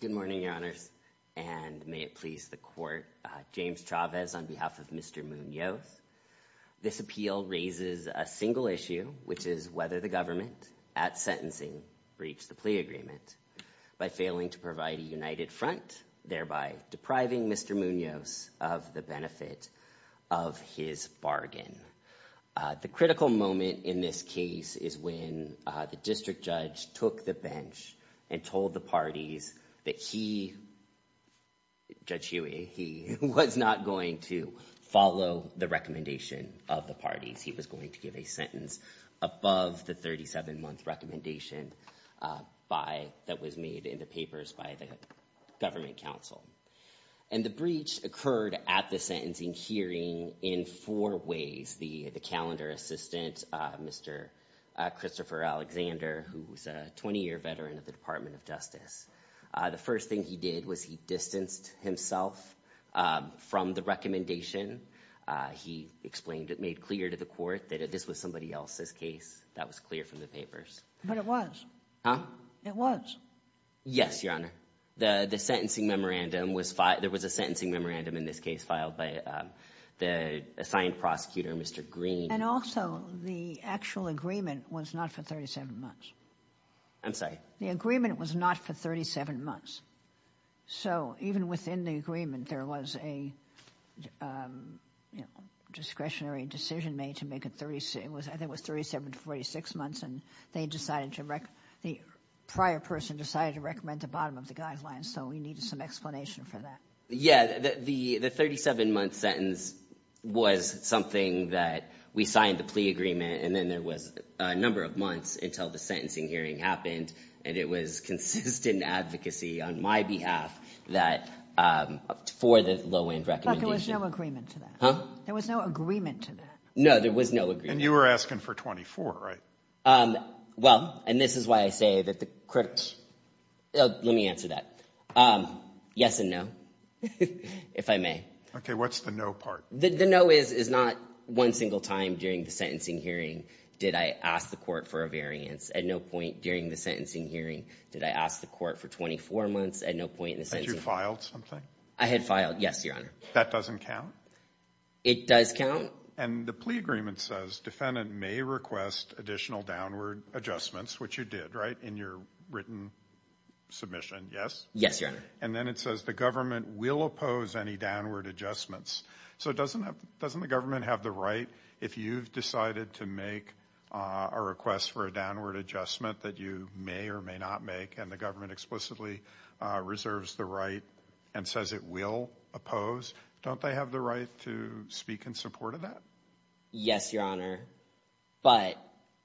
Good morning, Your Honors, and may it please the Court, James Chavez on behalf of Mr. Munoz. This appeal raises a single issue, which is whether the government, at sentencing, breached the plea agreement by failing to provide a united front, thereby depriving Mr. Munoz of the benefit of his bargain. The critical moment in this case is when the district judge took the bench and told the parties that he, Judge Huey, he was not going to follow the recommendation of the parties. He was going to give a sentence above the 37-month recommendation that was made in the papers by the government counsel. And the breach occurred at the sentencing hearing in four ways. The calendar assistant, Mr. Christopher Alexander, who's a 20-year veteran of the Department of Justice. The first thing he did was he distanced himself from the recommendation. He explained it, made clear to the court that this was somebody else's case that was clear from the papers. But it was. It was. Yes, Your Honor. The sentencing memorandum was filed, there was a sentencing memorandum in this case filed by the assigned prosecutor, Mr. Green. And also the actual agreement was not for 37 months. I'm sorry? The agreement was not for 37 months. So, even within the agreement, there was a discretionary decision made to make it, I think it was 37 to 46 months, and they decided to, the prior person decided to recommend the bottom of the guidelines, so we needed some explanation for that. Yeah, the 37-month sentence was something that we signed the plea agreement, and then there was a number of months until the sentencing hearing happened, and it was consistent advocacy on my behalf that, for the low-end recommendation. But there was no agreement to that. Huh? There was no agreement to that. No, there was no agreement. And you were asking for 24, right? Well, and this is why I say that the critics, let me answer that. Yes and no, if I may. Okay, what's the no part? The no is not one single time during the sentencing hearing did I ask the court for a variance. At no point during the sentencing hearing did I ask the court for 24 months, at no point in the sentencing hearing. Had you filed something? I had filed, yes, your honor. That doesn't count? It does count. And the plea agreement says defendant may request additional downward adjustments, which you did, right, in your written submission, yes? Yes, your honor. And then it says the government will oppose any downward adjustments. So doesn't the government have the right, if you've decided to make a request for a adjustment that you may or may not make, and the government explicitly reserves the right and says it will oppose, don't they have the right to speak in support of that? Yes, your honor, but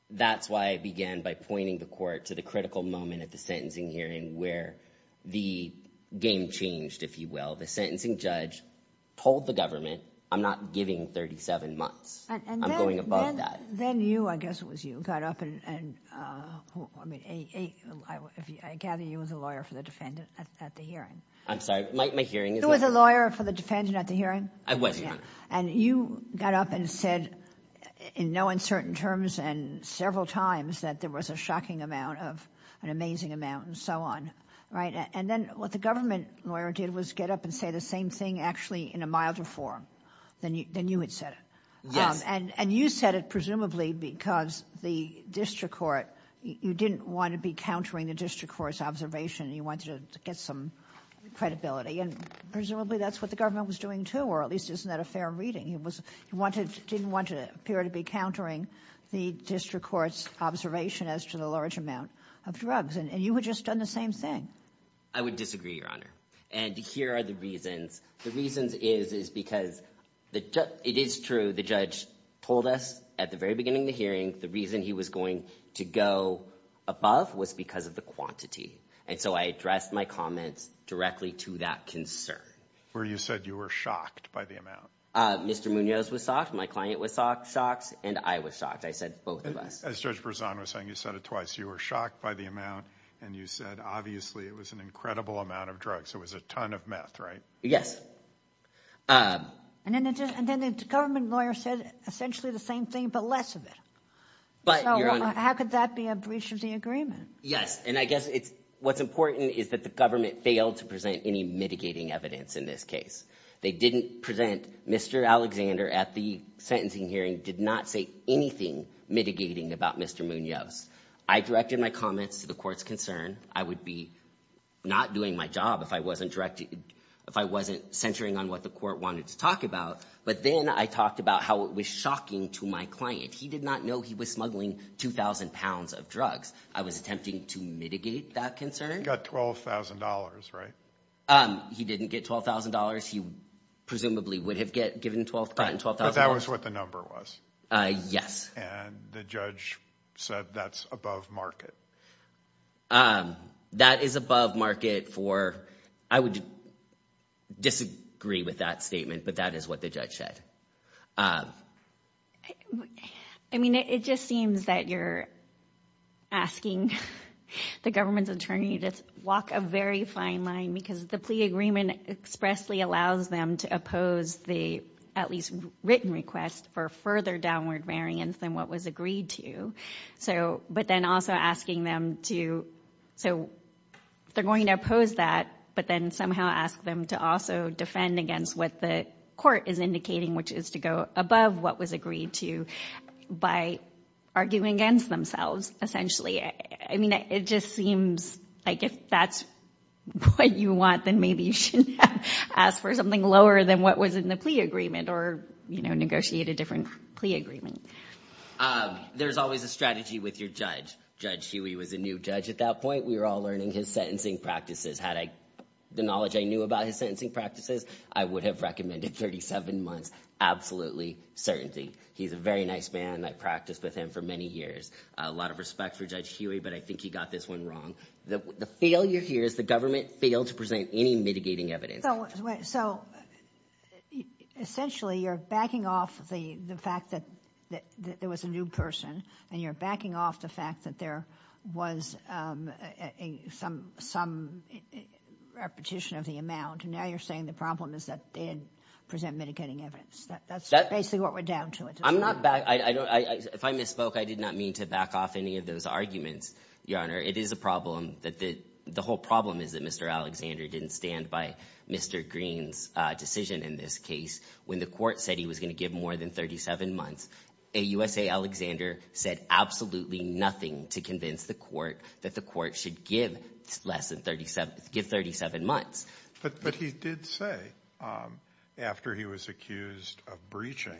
that's why I began by pointing the court to the critical moment at the sentencing hearing where the game changed, if you will. The sentencing judge told the government, I'm not giving 37 months, I'm going above that. And then you, I guess it was you, got up and, I gather you were the lawyer for the defendant at the hearing. I'm sorry, my hearing is not- You were the lawyer for the defendant at the hearing? I was, your honor. And you got up and said, in no uncertain terms and several times, that there was a shocking amount of an amazing amount and so on, right? And then what the government lawyer did was get up and say the same thing actually in a milder form than you had said it. Yes. And you said it presumably because the district court, you didn't want to be countering the district court's observation, you wanted to get some credibility and presumably that's what the government was doing too, or at least isn't that a fair reading? You didn't want to appear to be countering the district court's observation as to the large amount of drugs and you had just done the same thing. I would disagree, your honor. And here are the reasons. The reasons is because it is true, the judge told us at the very beginning of the hearing, the reason he was going to go above was because of the quantity. And so I addressed my comments directly to that concern. Where you said you were shocked by the amount. Mr. Munoz was shocked, my client was shocked, and I was shocked. I said both of us. As Judge Berzon was saying, you said it twice, you were shocked by the amount and you said obviously it was an incredible amount of drugs, it was a ton of meth, right? Yes. And then the government lawyer said essentially the same thing but less of it. So how could that be a breach of the agreement? Yes, and I guess what's important is that the government failed to present any mitigating evidence in this case. They didn't present, Mr. Alexander at the sentencing hearing did not say anything mitigating about Mr. Munoz. I directed my comments to the court's concern. I would be not doing my job if I wasn't centering on what the court wanted to talk about. But then I talked about how it was shocking to my client. He did not know he was smuggling 2,000 pounds of drugs. I was attempting to mitigate that concern. He got $12,000, right? He didn't get $12,000. He presumably would have gotten $12,000. But that was what the number was? Yes. And the judge said that's above market. That is above market for, I would disagree with that statement, but that is what the judge said. I mean, it just seems that you're asking the government's attorney to walk a very fine line because the plea agreement expressly allows them to oppose the at least written request for further downward variance than what was agreed to. But then also asking them to, so they're going to oppose that, but then somehow ask them to also defend against what the court is indicating, which is to go above what was agreed to by arguing against themselves, essentially. I mean, it just seems like if that's what you want, then maybe you should ask for something lower than what was in the plea agreement or negotiate a different plea agreement. There's always a strategy with your judge. Judge Huey was a new judge at that point. We were all learning his sentencing practices. Had I the knowledge I knew about his sentencing practices, I would have recommended 37 months absolutely certainty. He's a very nice man. I practiced with him for many years. A lot of respect for Judge Huey, but I think he got this one wrong. The failure here is the government failed to present any mitigating evidence. So essentially, you're backing off the fact that there was a new person, and you're backing off the fact that there was some repetition of the amount, and now you're saying the problem is that they didn't present mitigating evidence. That's basically what we're down to. I'm not back. If I misspoke, I did not mean to back off any of those arguments, Your Honor. It is a problem that the whole problem is that Mr. Alexander didn't stand by Mr. Green's decision in this case when the court said he was going to give more than 37 months. AUSA Alexander said absolutely nothing to convince the court that the court should give 37 months. But he did say, after he was accused of breaching,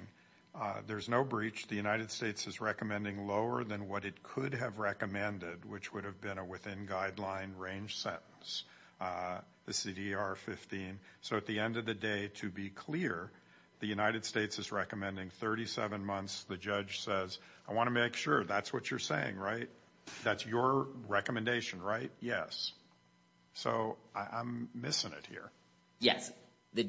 there's no breach. The United States is recommending lower than what it could have recommended, which would have been a within-guideline range sentence, the CDR 15. So at the end of the day, to be clear, the United States is recommending 37 months. The judge says, I want to make sure that's what you're saying, right? That's your recommendation, right? Yes. So I'm missing it here. Yes. The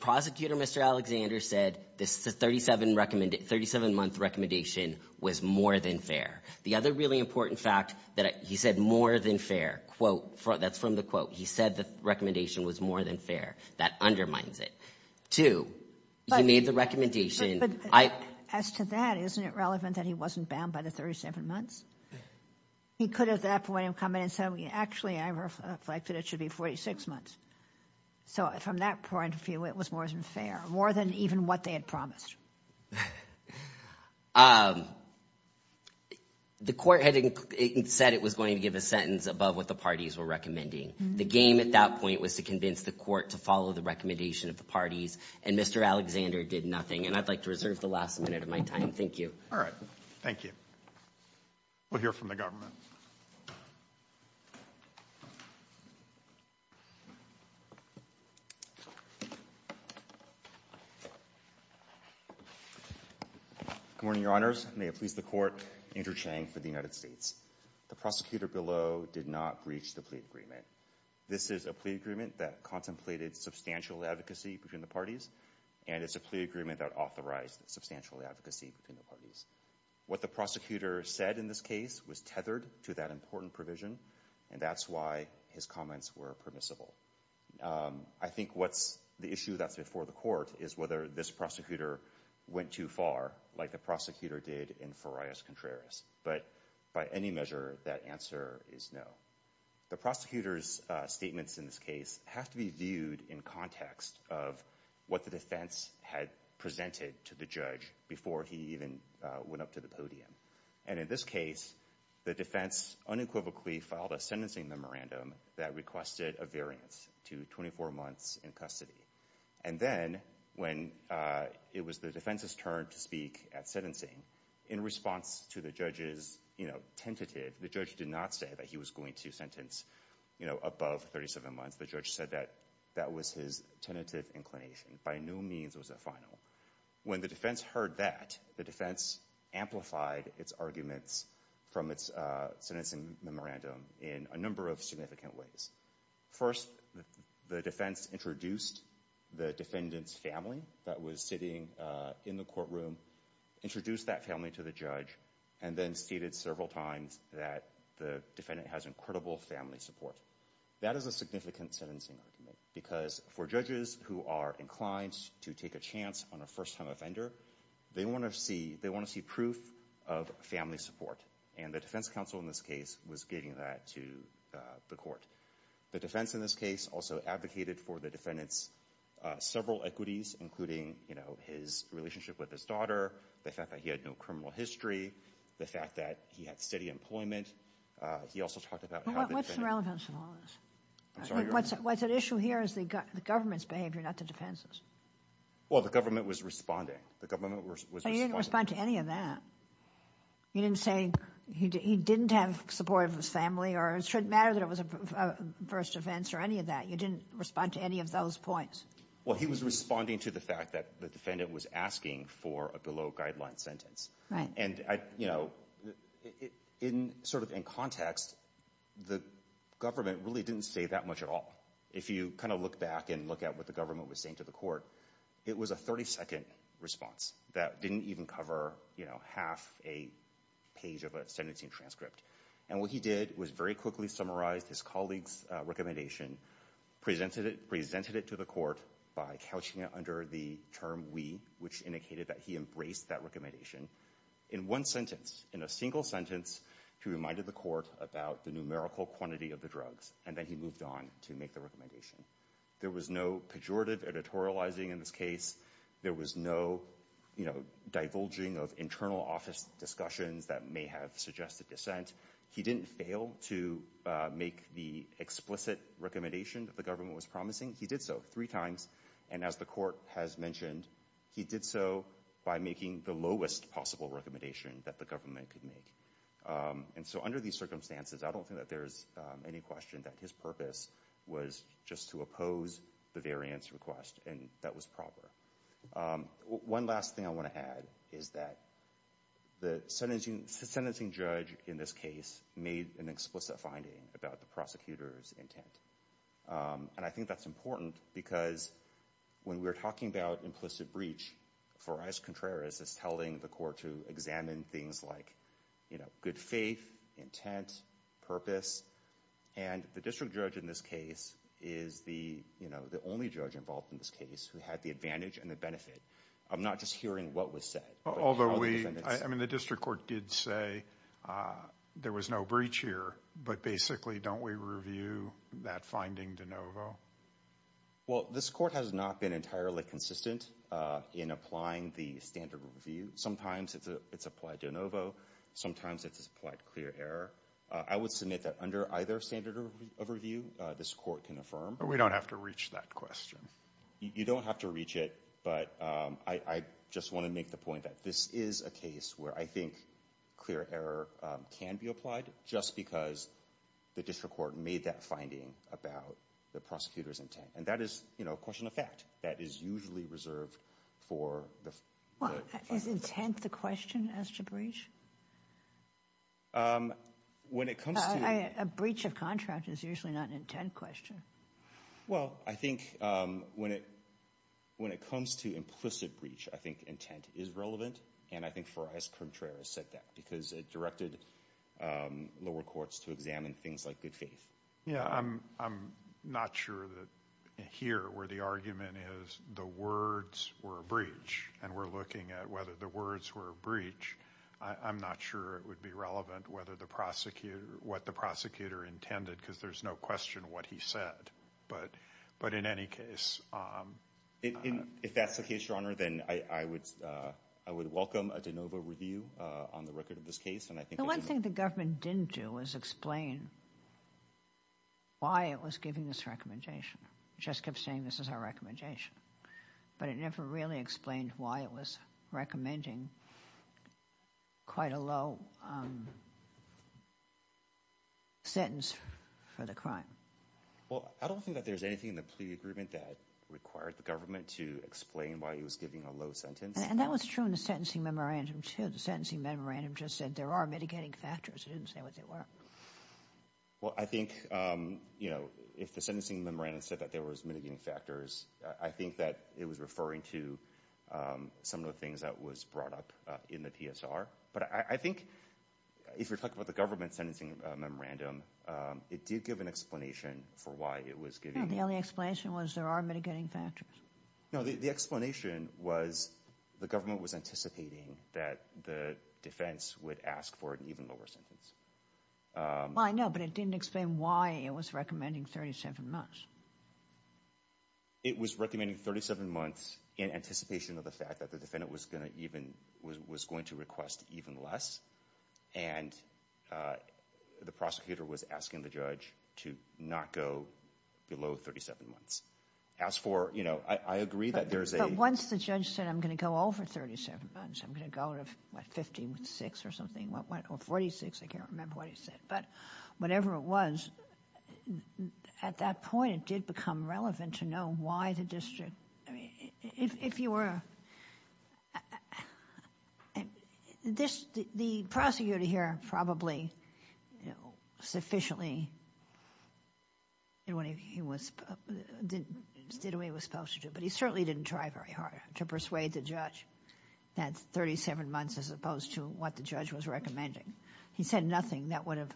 prosecutor, Mr. Alexander, said the 37-month recommendation was more than fair. The other really important fact that he said more than fair, quote, that's from the quote, he said the recommendation was more than fair. That undermines it. Two, he made the recommendation. As to that, isn't it relevant that he wasn't bound by the 37 months? He could have at that point come in and said, actually, I reflect that it should be 46 months. So from that point of view, it was more than fair, more than even what they had promised. The court had said it was going to give a sentence above what the parties were recommending. The game at that point was to convince the court to follow the recommendation of the And Mr. Alexander did nothing. And I'd like to reserve the last minute of my time. Thank you. All right. Thank you. We'll hear from the government. Good morning, Your Honors. May it please the court, Andrew Chang for the United States. The prosecutor below did not breach the plea agreement. This is a plea agreement that contemplated substantial advocacy between the parties. And it's a plea agreement that authorized substantial advocacy between the parties. What the prosecutor said in this case was tethered to that important provision. And that's why his comments were permissible. I think what's the issue that's before the court is whether this prosecutor went too far like the prosecutor did in Farias Contreras. But by any measure, that answer is no. The prosecutor's statements in this case have to be viewed in context of what the defense had presented to the judge before he even went up to the podium. And in this case, the defense unequivocally filed a sentencing memorandum that requested a variance to 24 months in custody. And then when it was the defense's turn to speak at sentencing, in response to the judge's tentative, the judge did not say that he was going to sentence above 37 months. The judge said that that was his tentative inclination. By no means was it final. When the defense heard that, the defense amplified its arguments from its sentencing memorandum in a number of significant ways. First, the defense introduced the defendant's family that was sitting in the courtroom, introduced that family to the judge, and then stated several times that the defendant has incredible family support. That is a significant sentencing argument. Because for judges who are inclined to take a chance on a first-time offender, they want to see proof of family support. And the defense counsel in this case was giving that to the court. The defense in this case also advocated for the defendant's several equities, including his relationship with his daughter, the fact that he had no criminal history, the fact that he had steady employment. He also talked about how the defendant- What's the relevance of all this? I'm sorry, Your Honor. What's at issue here is the government's behavior, not the defense's. Well, the government was responding. The government was responding. But you didn't respond to any of that. You didn't say he didn't have support of his family, or it shouldn't matter that it was a first offense, or any of that. You didn't respond to any of those points. Well, he was responding to the fact that the defendant was asking for a below-guideline sentence. And, you know, sort of in context, the government really didn't say that much at all. If you kind of look back and look at what the government was saying to the court, it was a 30-second response that didn't even cover, you know, half a page of a sentencing transcript. And what he did was very quickly summarize his colleague's recommendation, presented it to the court by couching it under the term, we, which indicated that he embraced that recommendation in one sentence, in a single sentence, he reminded the court about the numerical quantity of the drugs, and then he moved on to make the recommendation. There was no pejorative editorializing in this case, there was no, you know, divulging of internal office discussions that may have suggested dissent. He didn't fail to make the explicit recommendation that the government was promising. He did so three times, and as the court has mentioned, he did so by making the lowest possible recommendation that the government could make. And so under these circumstances, I don't think that there's any question that his purpose was just to oppose the variance request, and that was proper. One last thing I want to add is that the sentencing judge in this case made an explicit finding about the prosecutor's intent, and I think that's important because when we're talking about implicit breach, for us, Contreras is telling the court to examine things like, you know, good faith, intent, purpose. And the district judge in this case is the, you know, the only judge involved in this case who had the advantage and the benefit of not just hearing what was said. Although we, I mean, the district court did say there was no breach here, but basically don't we review that finding de novo? Well, this court has not been entirely consistent in applying the standard review. Sometimes it's applied de novo, sometimes it's applied clear error. I would submit that under either standard of review, this court can affirm. We don't have to reach that question. You don't have to reach it, but I just want to make the point that this is a case where I think clear error can be applied just because the district court made that finding about the prosecutor's intent. And that is, you know, a question of fact that is usually reserved for the... Is intent the question as to breach? When it comes to... A breach of contract is usually not an intent question. Well, I think when it comes to implicit breach, I think intent is relevant. And I think Farias Contreras said that because it directed lower courts to examine things like good faith. Yeah, I'm not sure that here where the argument is the words were a breach and we're looking at whether the words were a breach, I'm not sure it would be relevant whether the prosecutor... What the prosecutor intended, because there's no question what he said. But in any case... If that's the case, Your Honor, then I would welcome a de novo review on the record of this case. And I think... The one thing the government didn't do was explain why it was giving this recommendation. Just kept saying this is our recommendation, but it never really explained why it was recommending quite a low sentence for the crime. Well, I don't think that there's anything in the plea agreement that required the government to explain why he was giving a low sentence. And that was true in the sentencing memorandum, too. The sentencing memorandum just said there are mitigating factors. It didn't say what they were. Well, I think, you know, if the sentencing memorandum said that there was mitigating factors, I think that it was referring to some of the things that was brought up in the PSR. But I think if you're talking about the government sentencing memorandum, it did give an explanation for why it was giving... No, the only explanation was there are mitigating factors. No, the explanation was the government was anticipating that the defense would ask for an even lower sentence. Well, I know, but it didn't explain why it was recommending 37 months. It was recommending 37 months in anticipation of the fact that the defendant was going to request even less. And the prosecutor was asking the judge to not go below 37 months. As for, you know, I agree that there's a... But once the judge said, I'm going to go over 37 months, I'm going to go to, what, 15 with 46 or something, or 46, I can't remember what he said. But whatever it was, at that point, it did become relevant to know why the district... If you were... The prosecutor here probably sufficiently did what he was supposed to do, but he certainly didn't try very hard to persuade the judge that 37 months as opposed to what the judge was recommending. He said nothing that would have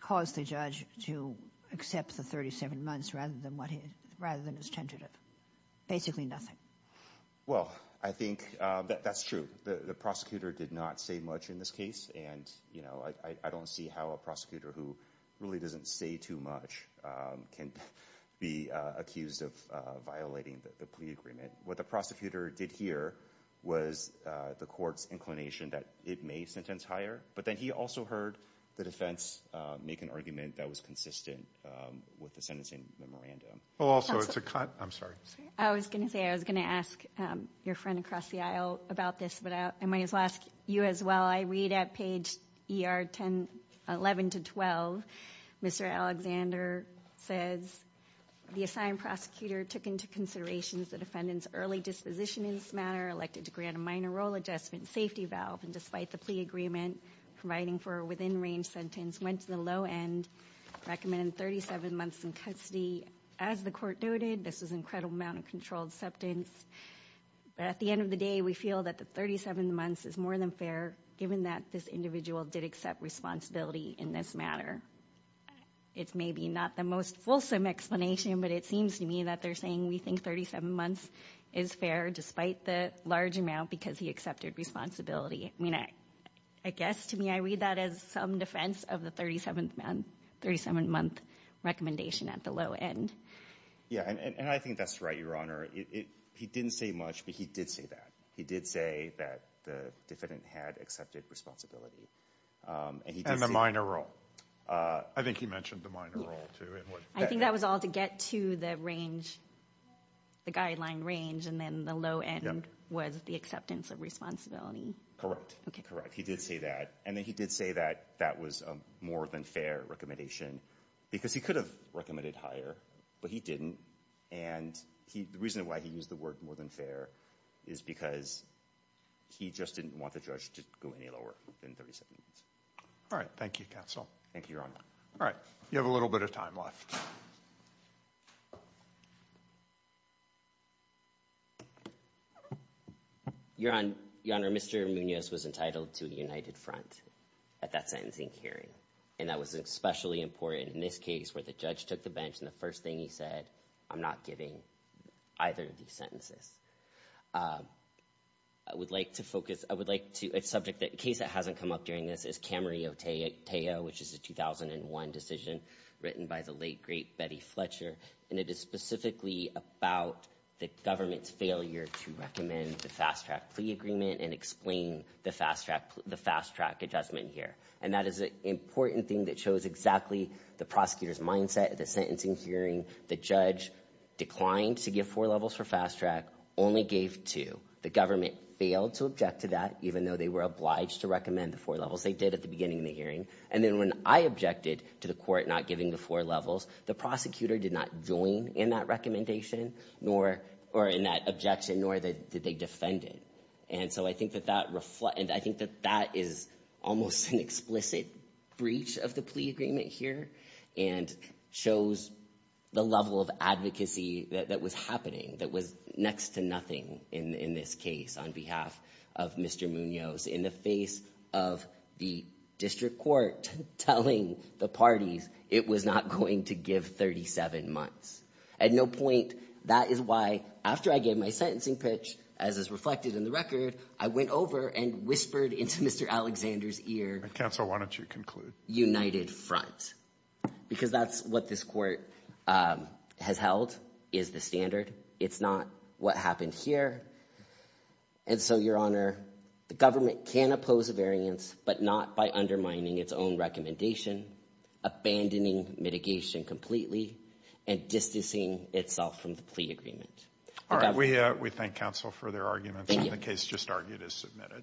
caused the judge to accept the 37 months rather than what he... Rather than his tentative, basically nothing. Well, I think that's true. The prosecutor did not say much in this case, and, you know, I don't see how a prosecutor who really doesn't say too much can be accused of violating the plea agreement. What the prosecutor did here was the court's inclination that it may sentence higher. But then he also heard the defense make an argument that was consistent with the sentencing memorandum. Also, it's a... I'm sorry. I was going to say, I was going to ask your friend across the aisle about this, but I might as well ask you as well. While I read at page 11 to 12, Mr. Alexander says, the assigned prosecutor took into consideration the defendant's early disposition in this matter, elected to grant a minor role adjustment safety valve, and despite the plea agreement providing for a within-range sentence, went to the low end, recommended 37 months in custody. As the court noted, this was an incredible amount of controlled septence, but at the end of the day, we feel that the 37 months is more than fair, given that this individual did accept responsibility in this matter. It's maybe not the most fulsome explanation, but it seems to me that they're saying we think 37 months is fair, despite the large amount, because he accepted responsibility. I mean, I guess to me, I read that as some defense of the 37th month recommendation at the low end. Yeah, and I think that's right, Your Honor. He didn't say much, but he did say that. He did say that the defendant had accepted responsibility, and he did say- And the minor role. I think he mentioned the minor role, too. I think that was all to get to the range, the guideline range, and then the low end was the acceptance of responsibility. Correct. Okay. Correct. He did say that, and then he did say that that was a more than fair recommendation, because he could have recommended higher, but he didn't, and the reason why he used the word more than fair is because he just didn't want the judge to go any lower than 37 months. All right. Thank you, counsel. Thank you, Your Honor. All right. You have a little bit of time left. Your Honor, Mr. Munoz was entitled to a united front at that sentencing hearing, and that was especially important in this case where the judge took the bench, and the first thing he said, I'm not giving either of these sentences. I would like to focus- I would like to- A case that hasn't come up during this is Camarillo-Tejo, which is a 2001 decision written by the late, great Betty Fletcher, and it is specifically about the government's failure to recommend the fast track plea agreement and explain the fast track adjustment here. And that is an important thing that shows exactly the prosecutor's mindset at the sentencing hearing. The judge declined to give four levels for fast track, only gave two. The government failed to object to that, even though they were obliged to recommend the four levels. They did at the beginning of the hearing. And then when I objected to the court not giving the four levels, the prosecutor did not join in that recommendation, nor- or in that objection, nor did they defend it. And so I think that that reflect- I think that that is almost an explicit breach of the plea agreement here, and shows the level of advocacy that was happening, that was next to nothing in this case on behalf of Mr. Munoz in the face of the district court telling the parties it was not going to give 37 months. At no point, that is why, after I gave my sentencing pitch, as is reflected in the record, I went over and whispered into Mr. Alexander's ear- And Counsel, why don't you conclude? United Front. Because that's what this court has held, is the standard. It's not what happened here. And so, Your Honor, the government can oppose a variance, but not by undermining its own recommendation, abandoning mitigation completely, and distancing itself from the plea agreement. The government- All right, we thank counsel for their arguments, and the case just argued is submitted.